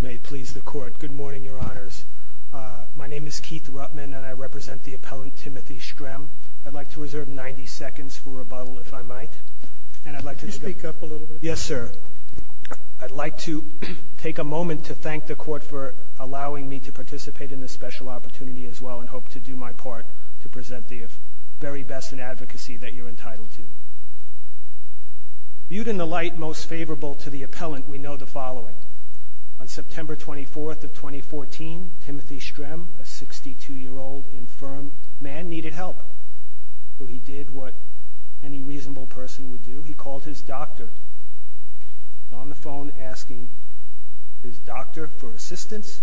May it please the court. Good morning, your honors. My name is Keith Ruttman and I represent the appellant Timothy Strem. I'd like to reserve 90 seconds for rebuttal, if I might, and I'd like to speak up a little bit. Yes, sir. I'd like to take a moment to thank the court for allowing me to participate in this special opportunity as well and hope to do my part to present the very best in advocacy that you're entitled to. Viewed in the light most favorable to the following. On September 24th of 2014, Timothy Strem, a 62-year-old infirm man, needed help. So he did what any reasonable person would do. He called his doctor on the phone asking his doctor for assistance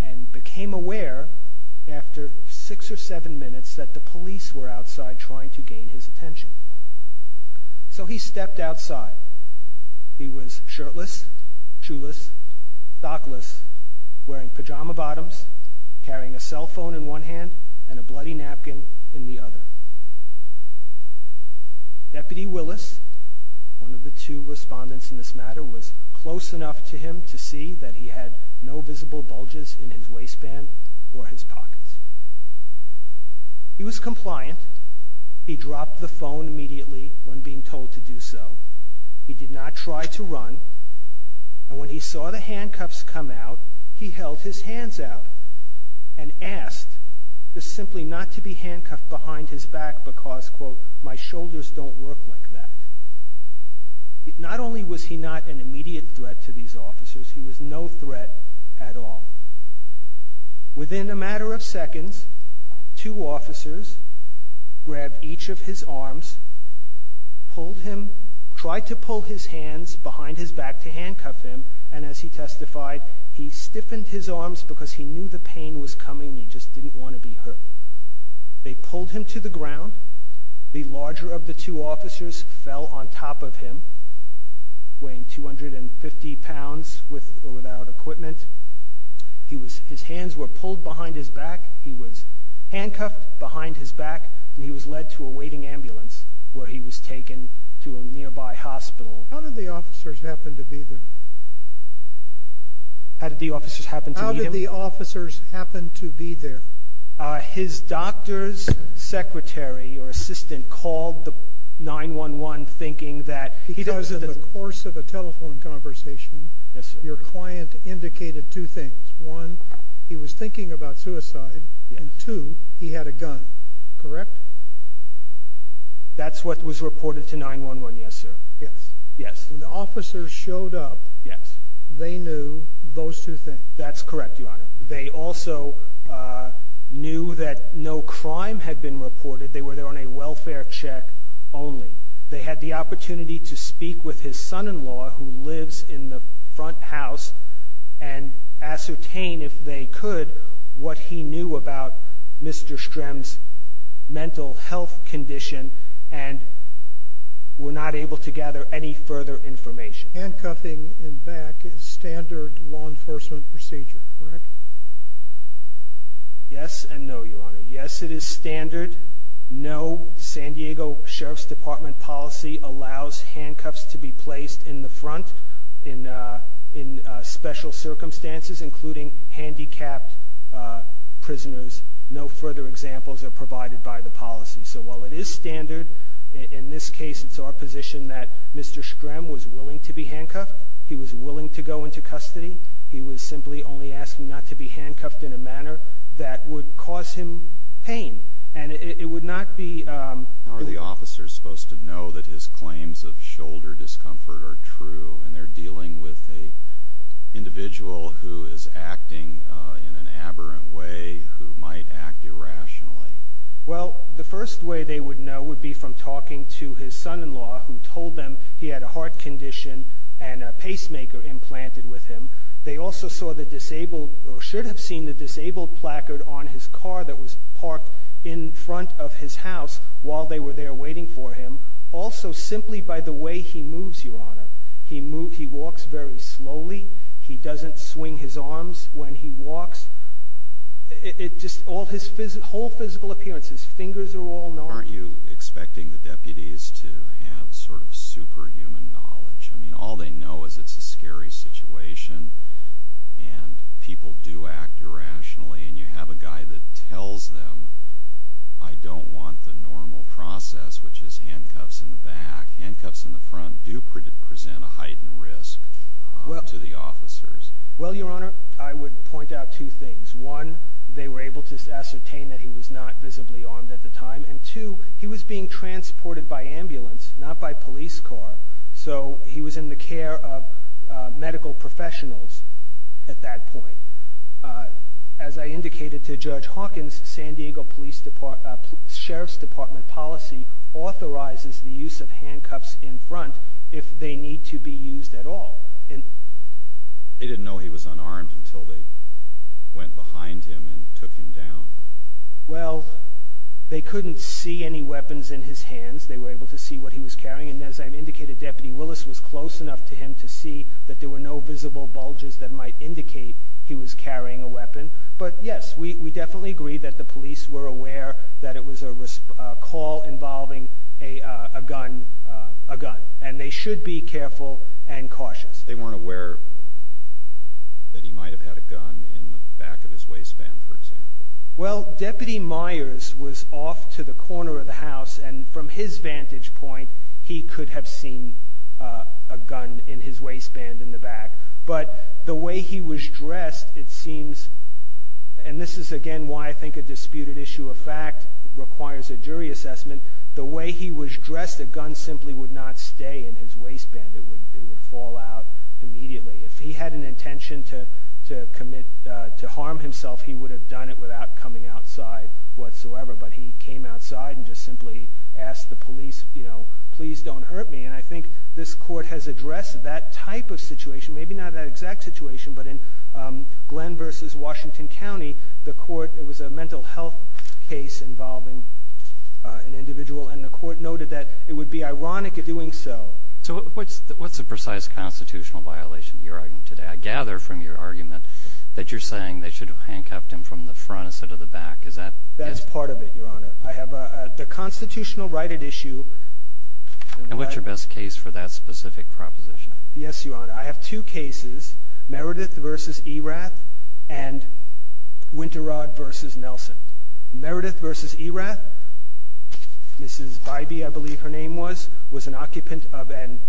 and became aware after six or seven minutes that the police were outside trying to gain his assistance. He was homeless, shoeless, stockless, wearing pajama bottoms, carrying a cell phone in one hand and a bloody napkin in the other. Deputy Willis, one of the two respondents in this matter, was close enough to him to see that he had no visible bulges in his waistband or his pockets. He was compliant. He dropped the phone immediately when being told to do so. He did not try to run and when he saw the handcuffs come out, he held his hands out and asked just simply not to be handcuffed behind his back because quote, my shoulders don't work like that. Not only was he not an immediate threat to these officers, he was no threat at all. Within a matter of seconds, two tried to pull his hands behind his back to handcuff him and as he testified, he stiffened his arms because he knew the pain was coming. He just didn't want to be hurt. They pulled him to the ground. The larger of the two officers fell on top of him, weighing 250 pounds without equipment. His hands were pulled behind his back. He was handcuffed behind his back. He was led to a waiting nearby hospital. How did the officers happen to be there? How did the officers happen? How did the officers happen to be there? His doctor's secretary or assistant called the 911 thinking that because of the course of a telephone conversation, your client indicated two things. One, he was thinking about suicide and two, he had a gun. Correct. That's what was reported to 911. Yes, sir. Yes. Yes. When the officers showed up, they knew those two things. That's correct, Your Honor. They also knew that no crime had been reported. They were there on a welfare check only. They had the opportunity to speak with his son in law who lives in the front house and ascertain if they could what he knew about Mr. Strem's mental health condition and we're not able to gather any further information. Handcuffing in back is standard law enforcement procedure, correct? Yes and no, Your Honor. Yes, it is standard. No. San Diego Sheriff's Department policy allows handcuffs to be placed in the front in in special circumstances, including handicapped prisoners. No further examples are provided by the policy. So while it is standard in this case, it's our position that Mr Strem was willing to be handcuffed. He was willing to go into custody. He was simply only asking not to be handcuffed in a manner that would cause him pain and it would not be. How are the officers supposed to know that his is acting in an aberrant way who might act irrationally? Well, the first way they would know would be from talking to his son in law who told them he had a heart condition and a pacemaker implanted with him. They also saw the disabled or should have seen the disabled placard on his car that was parked in front of his house while they were there waiting for him. Also, simply by the way he moves, Your Honor, he moved. He walks very slowly. He doesn't swing his arms when he walks. It just all his whole physical appearances. Fingers are all not. Aren't you expecting the deputies to have sort of superhuman knowledge? I mean, all they know is it's a scary situation and people do act irrationally and you have a guy that tells them I don't want the normal process, which is handcuffs in the back. Handcuffs in the front do present a heightened risk to the officers. Well, Your Honor, I would point out two things. One, they were able to ascertain that he was not visibly armed at the time, and two, he was being transported by ambulance, not by police car. So he was in the care of medical professionals at that point. Uh, as I indicated to Judge Hawkins, San Diego Police Sheriff's Department policy authorizes the use of handcuffs in front if they need to be used at all, and they didn't know he was unarmed until they went behind him and took him down. Well, they couldn't see any weapons in his hands. They were able to see what he was carrying. And as I've indicated, Deputy Willis was close enough to him to see that there were no visible bulges that might indicate he was carrying a weapon. But yes, we definitely agree that the police were aware that it was a call involving a gun, a gun, and they should be careful and cautious. They weren't aware that he might have had a gun in the back of his waistband, for example. Well, Deputy Myers was off to the corner of the house, and from his vantage point, he could have seen a gun in his waistband in the back. But the way he was dressed, it seems, and this is again why I think a disputed issue of fact requires a jury assessment, the way he was dressed, a gun simply would not stay in his waistband. It would fall out immediately. If he had an intention to commit, to harm himself, he would have done it without coming outside whatsoever. But he came outside and just simply asked the police, you know, please don't hurt me. And I think this Court has addressed that type of situation, maybe not that exact situation, but in Glenn v. Washington County, the Court, it was a mental health case involving an individual, and the Court noted that it would be ironic in doing so. So what's the precise constitutional violation you're arguing today? I gather from your argument that you're saying they should have handcuffed him from the front instead of the back. Is that? That's part of it, Your Honor. I have the constitutional right at issue. And what's your best case for that specific proposition? Yes, Your Honor. I have two cases, Meredith v. Erath and Winterrod v. Nelson. Meredith v. Erath, Mrs. Bybee, I believe her name was, was an occupant of an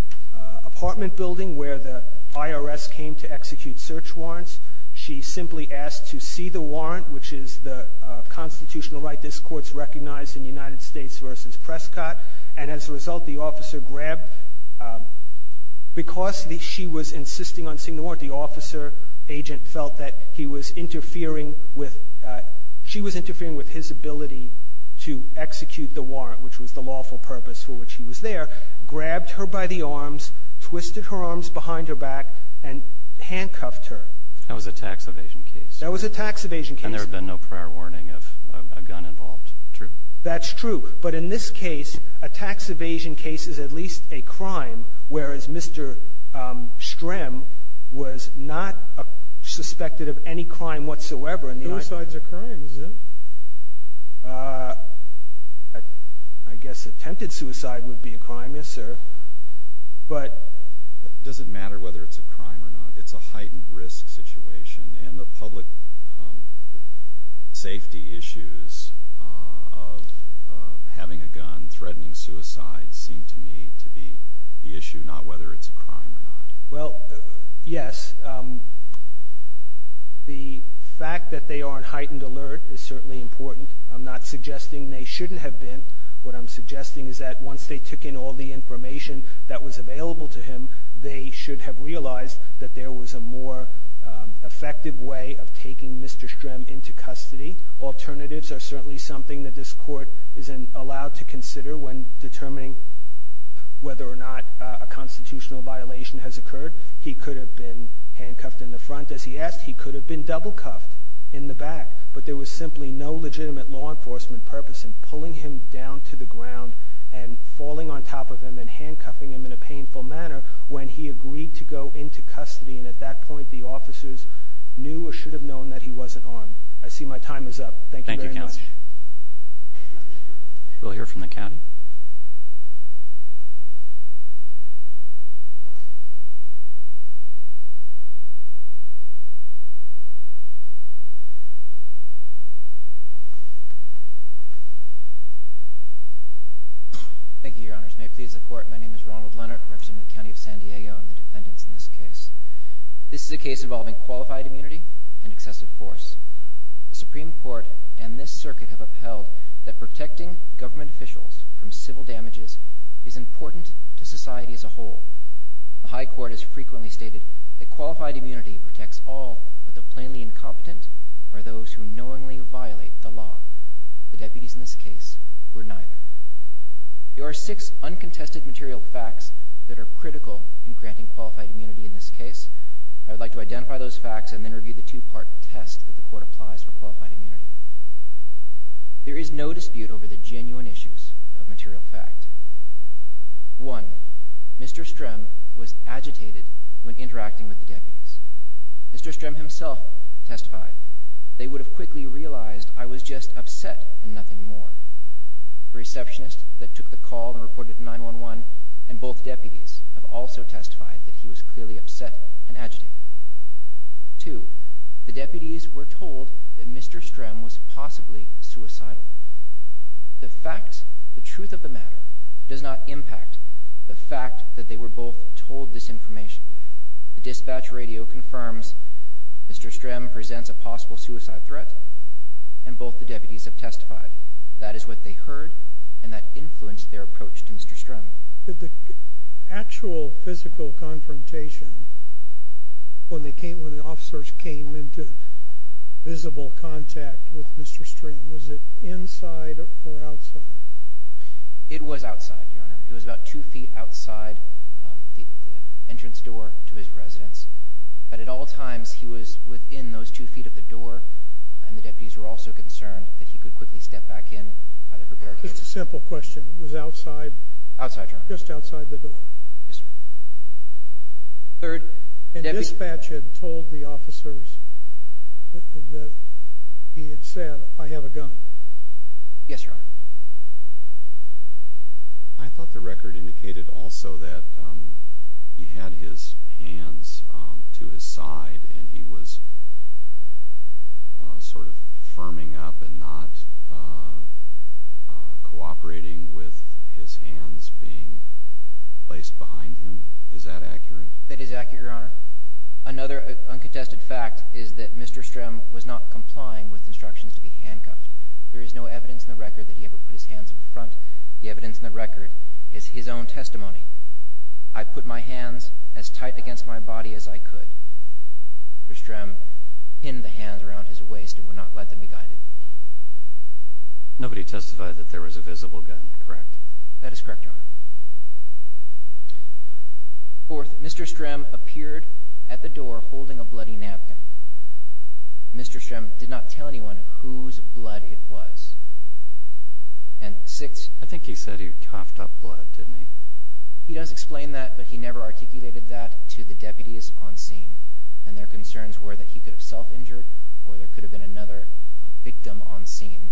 apartment building where the IRS came to execute search warrants. She simply asked to see the warrant, which is the constitutional right this Court's recognized in United States v. Prescott. And as a result, the officer grabbed her. Because she was insisting on seeing the warrant, the officer agent felt that he was interfering with his ability to execute the warrant, which was the lawful purpose for which he was there, grabbed her by the arms, twisted her arms behind her back, and handcuffed her. That was a tax evasion case. That was a tax evasion case. And there had been no prior warning of a gun involved. True. That's true. But in this case, a tax evasion case is at least a crime. Whereas Mr. Strem was not suspected of any crime whatsoever. Suicide's a crime, isn't it? I guess attempted suicide would be a crime, yes sir. But. Doesn't matter whether it's a crime or not. It's a heightened risk situation. And the public safety issues of having a gun threatening suicide seem to me to be the issue, not whether it's a crime or not. Well, yes. The fact that they are on heightened alert is certainly important. I'm not suggesting they shouldn't have been. What I'm suggesting is that once they took in all the information that was there was no legitimate law enforcement purpose in pulling him down to the ground and falling on top of him and handcuffing him in a painful manner when he agreed to go into custody. And at that point, the officers decided that they were going to take Mr. Strem into custody. I see my time is up. Thank you very much. We'll hear from the county. Thank you, Your Honors. May it please the Court. My name is Ronald Leonard. I represent the county of San Diego and the defendants in this case. This is a case involving qualified immunity and excessive force. The Supreme Court and this circuit have upheld that protecting government officials from civil damages is important to society as a whole. The high court has frequently stated that qualified immunity protects all but the plainly incompetent or those who knowingly violate the law. The deputies in this case were neither. There are six uncontested material facts that are critical in granting qualified immunity in this case. I would like to identify those facts and then review the two-part test that the court applies for qualified immunity. There is no dispute over the genuine issues of material fact. One, Mr. Strem was agitated when interacting with the deputies. Mr. Strem himself testified. They would have quickly realized I was just upset and nothing more. The receptionist that took the call and reported it to 911 and both deputies have also testified that he was clearly upset and agitated. Two, the deputies were told that Mr. Strem was possibly suicidal. The facts, the truth of the matter, does not impact the fact that they were both told this information. The dispatch radio confirms Mr. Strem presents a possible suicide threat and both the deputies have testified. That is what they heard and that influenced their approach to Mr. Strem. The actual physical confrontation when the officers came into visible contact with Mr. Strem, was it inside or outside? It was outside, Your Honor. It was about two feet outside the entrance door to his residence. But at all times, he was within those two feet of the door. And the deputies were also concerned that he could quickly step back in. It's a simple question, it was outside? Outside, Your Honor. Just outside the door. Yes, sir. Third. A dispatch had told the officers that he had said, I have a gun. Yes, Your Honor. I thought the record indicated also that he had his hands to his side and he was sort of firming up and not cooperating with his hands being placed behind him. Is that accurate? That is accurate, Your Honor. Another uncontested fact is that Mr. Strem was not complying with instructions to be handcuffed. There is no evidence in the record that he ever put his hands in front. The evidence in the record is his own testimony. I put my hands as tight against my body as I could. Mr. Strem pinned the hands around his waist and would not let them be guided. Nobody testified that there was a visible gun, correct? That is correct, Your Honor. Fourth, Mr. Strem appeared at the door holding a bloody napkin. Mr. Strem did not tell anyone whose blood it was. And sixth. I think he said he coughed up blood, didn't he? He does explain that, but he never articulated that to the deputies on scene. And their concerns were that he could have self-injured, or there could have been another victim on scene,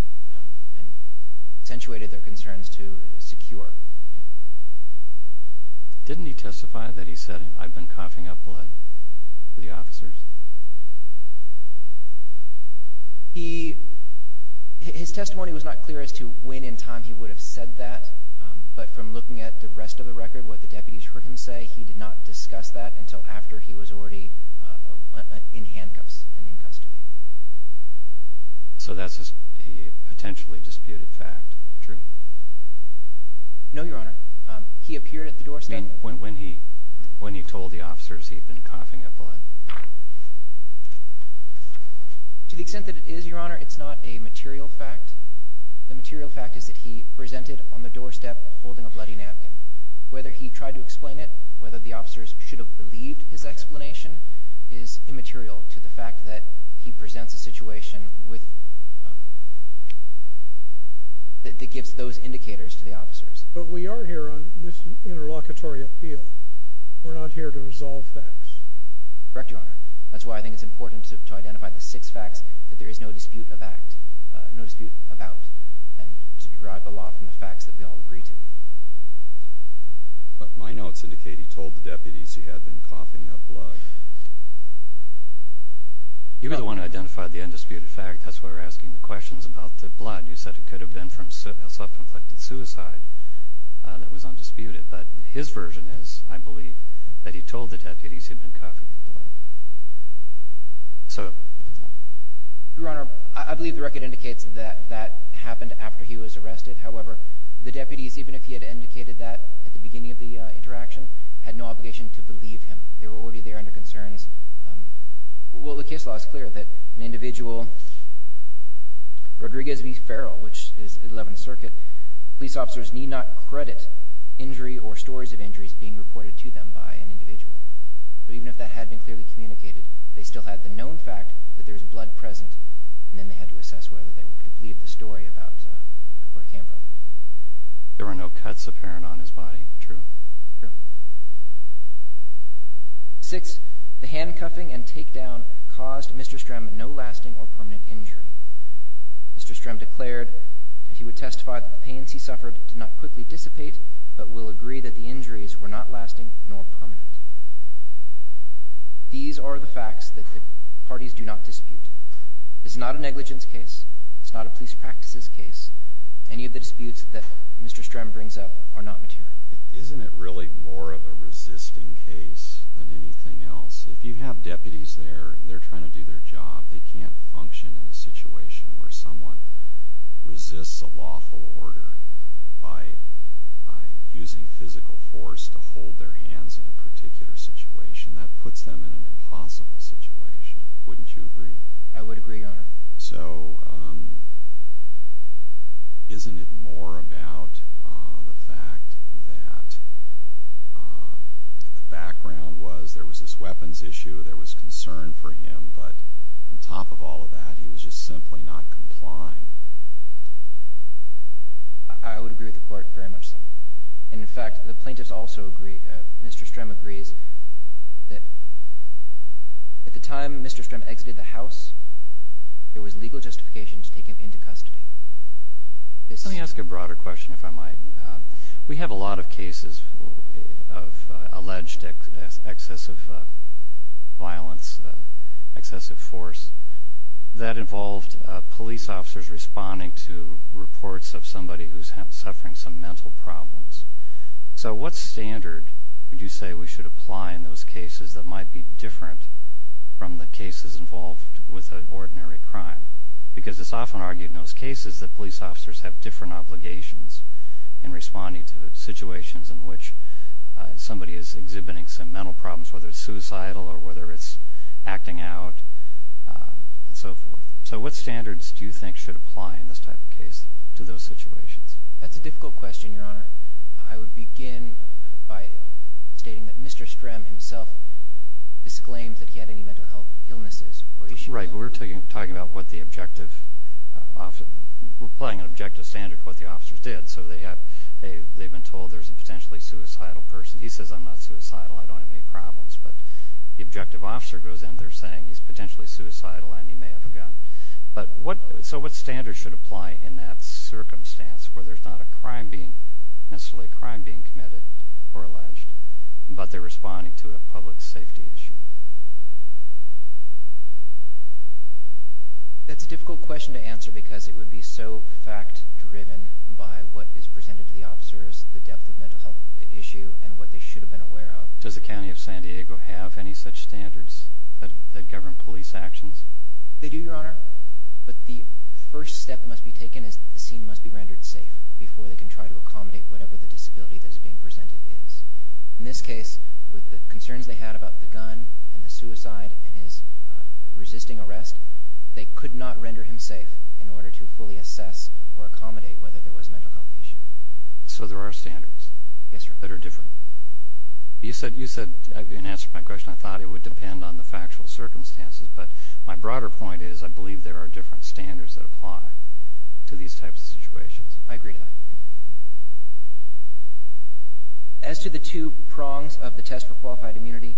and accentuated their concerns to secure. Didn't he testify that he said, I've been coughing up blood for the officers? He, his testimony was not clear as to when in time he would have said that. But from looking at the rest of the record, what the deputies heard him say, he did not discuss that until after he was already in handcuffs and in custody. So that's a potentially disputed fact, true? No, Your Honor. He appeared at the doorstep. When he told the officers he'd been coughing up blood. To the extent that it is, Your Honor, it's not a material fact. The material fact is that he presented on the doorstep holding a bloody napkin. Whether he tried to explain it, whether the officers should have believed his explanation, is immaterial to the fact that he presents a situation with, that gives those indicators to the officers. But we are here on this interlocutory appeal. We're not here to resolve facts. Correct, Your Honor. That's why I think it's important to identify the six facts that there is no dispute about, and to derive a lot from the facts that we all agree to. But my notes indicate he told the deputies he had been coughing up blood. You were the one who identified the undisputed fact. That's why we're asking the questions about the blood. You said it could have been from self-inflicted suicide that was undisputed. But his version is, I believe, that he told the deputies he'd been coughing up blood. So. Your Honor, I believe the record indicates that that happened after he was arrested. However, the deputies, even if he had indicated that at the beginning of the interaction, had no obligation to believe him. They were already there under concerns. Well, the case law is clear that an individual, Rodriguez v. Farrell, which is 11th Circuit, police officers need not credit injury or stories of injuries being reported to them by an individual. But even if that had been clearly communicated, they still had the known fact that there was blood present. And then they had to assess whether they were to believe the story about where it came from. There were no cuts apparent on his body, true. True. Six, the handcuffing and takedown caused Mr. Strem no lasting or permanent injury. Mr. Strem declared that he would testify that the pains he suffered did not quickly dissipate, but will agree that the injuries were not lasting nor permanent. These are the facts that the parties do not dispute. It's not a negligence case. It's not a police practices case. Any of the disputes that Mr. Strem brings up are not material. Isn't it really more of a resisting case than anything else? If you have deputies there, they're trying to do their job. They can't function in a situation where someone resists a lawful order by using physical force to hold their hands in a particular situation. That puts them in an impossible situation. Wouldn't you agree? I would agree, Your Honor. So, isn't it more about the fact that the background was there was this weapons issue, there was concern for him. But on top of all of that, he was just simply not complying. I would agree with the court very much so. And in fact, the plaintiffs also agree, Mr. Strem agrees that at the time Mr. Strem exited the house, there was legal justification to take him into custody. Let me ask a broader question, if I might. We have a lot of cases of alleged excessive violence, excessive force, that involved police officers responding to reports of somebody who's suffering some mental problems. So what standard would you say we should apply in those cases that might be different from the cases involved with an ordinary crime? Because it's often argued in those cases that police officers have different obligations in responding to situations in which somebody is exhibiting some mental problems, whether it's suicidal or whether it's acting out, and so forth. So what standards do you think should apply in this type of case to those situations? That's a difficult question, Your Honor. I would begin by stating that Mr. Strem himself disclaims that he had any mental health illnesses or issues. Right, but we're talking about what the objective, we're applying an objective standard to what the officers did. So they've been told there's a potentially suicidal person. He says, I'm not suicidal, I don't have any problems. But the objective officer goes in there saying he's potentially suicidal and he may have a gun. But what, so what standards should apply in that circumstance where there's not a crime being, necessarily a crime being committed or alleged, but they're responding to a public safety issue? That's a difficult question to answer because it would be so fact driven by what is presented to the officers, the depth of mental health issue, and what they should have been aware of. Does the county of San Diego have any such standards that govern police actions? They do, Your Honor. But the first step that must be taken is the scene must be rendered safe before they can try to accommodate whatever the disability that is being presented is. In this case, with the concerns they had about the gun and the suicide and his resisting arrest, they could not render him safe in order to fully assess or accommodate whether there was a mental health issue. So there are standards. Yes, Your Honor. That are different. You said, you said, in answer to my question, I thought it would depend on the factual circumstances. But my broader point is, I believe there are different standards that apply to these types of situations. I agree to that. As to the two prongs of the test for qualified immunity,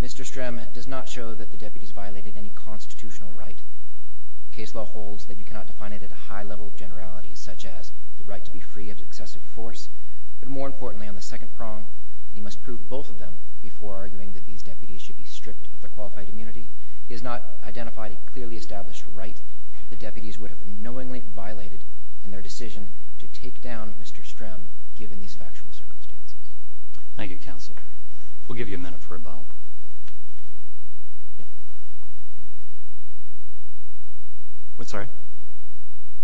Mr. Strem does not show that the deputies violated any constitutional right. Case law holds that you cannot define it at a high level of generality, such as the right to be free of excessive force. But more importantly, on the second prong, you must prove both of them before arguing that these deputies should be stripped of their qualified immunity. He has not identified a clearly established right the deputies would have knowingly violated in their decision to take down Mr. Strem, given these factual circumstances. Thank you, counsel. We'll give you a minute for rebuttal. What, sorry?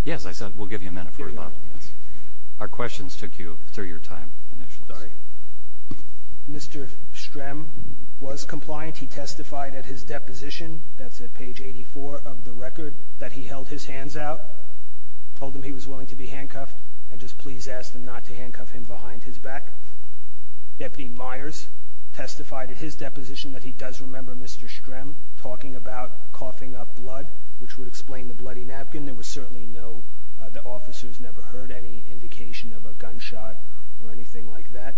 Yes, I said we'll give you a minute for rebuttal. Our questions took you through your time initially. Sorry. Mr. Strem was compliant. He testified at his deposition, that's at page 84 of the record, that he held his hands out. Told them he was willing to be handcuffed, and just please ask them not to handcuff him behind his back. Deputy Myers testified at his deposition that he does remember Mr. Strem talking about coughing up blood, which would explain the bloody napkin. There was certainly no, the officers never heard any indication of a gunshot or anything like that.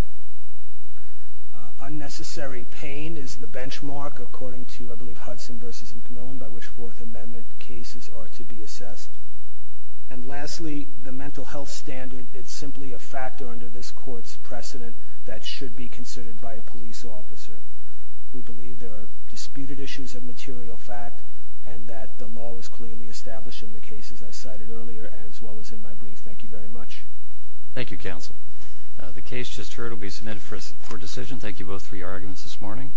Unnecessary pain is the benchmark according to, I believe, Hudson versus McMillan, by which Fourth Amendment cases are to be assessed. And lastly, the mental health standard, it's simply a factor under this court's precedent that should be considered by a police officer. We believe there are disputed issues of material fact, and that the law is clearly established in the cases I cited earlier, as well as in my brief. Thank you very much. Thank you, counsel. The case just heard will be submitted for decision. Thank you both for your arguments this morning.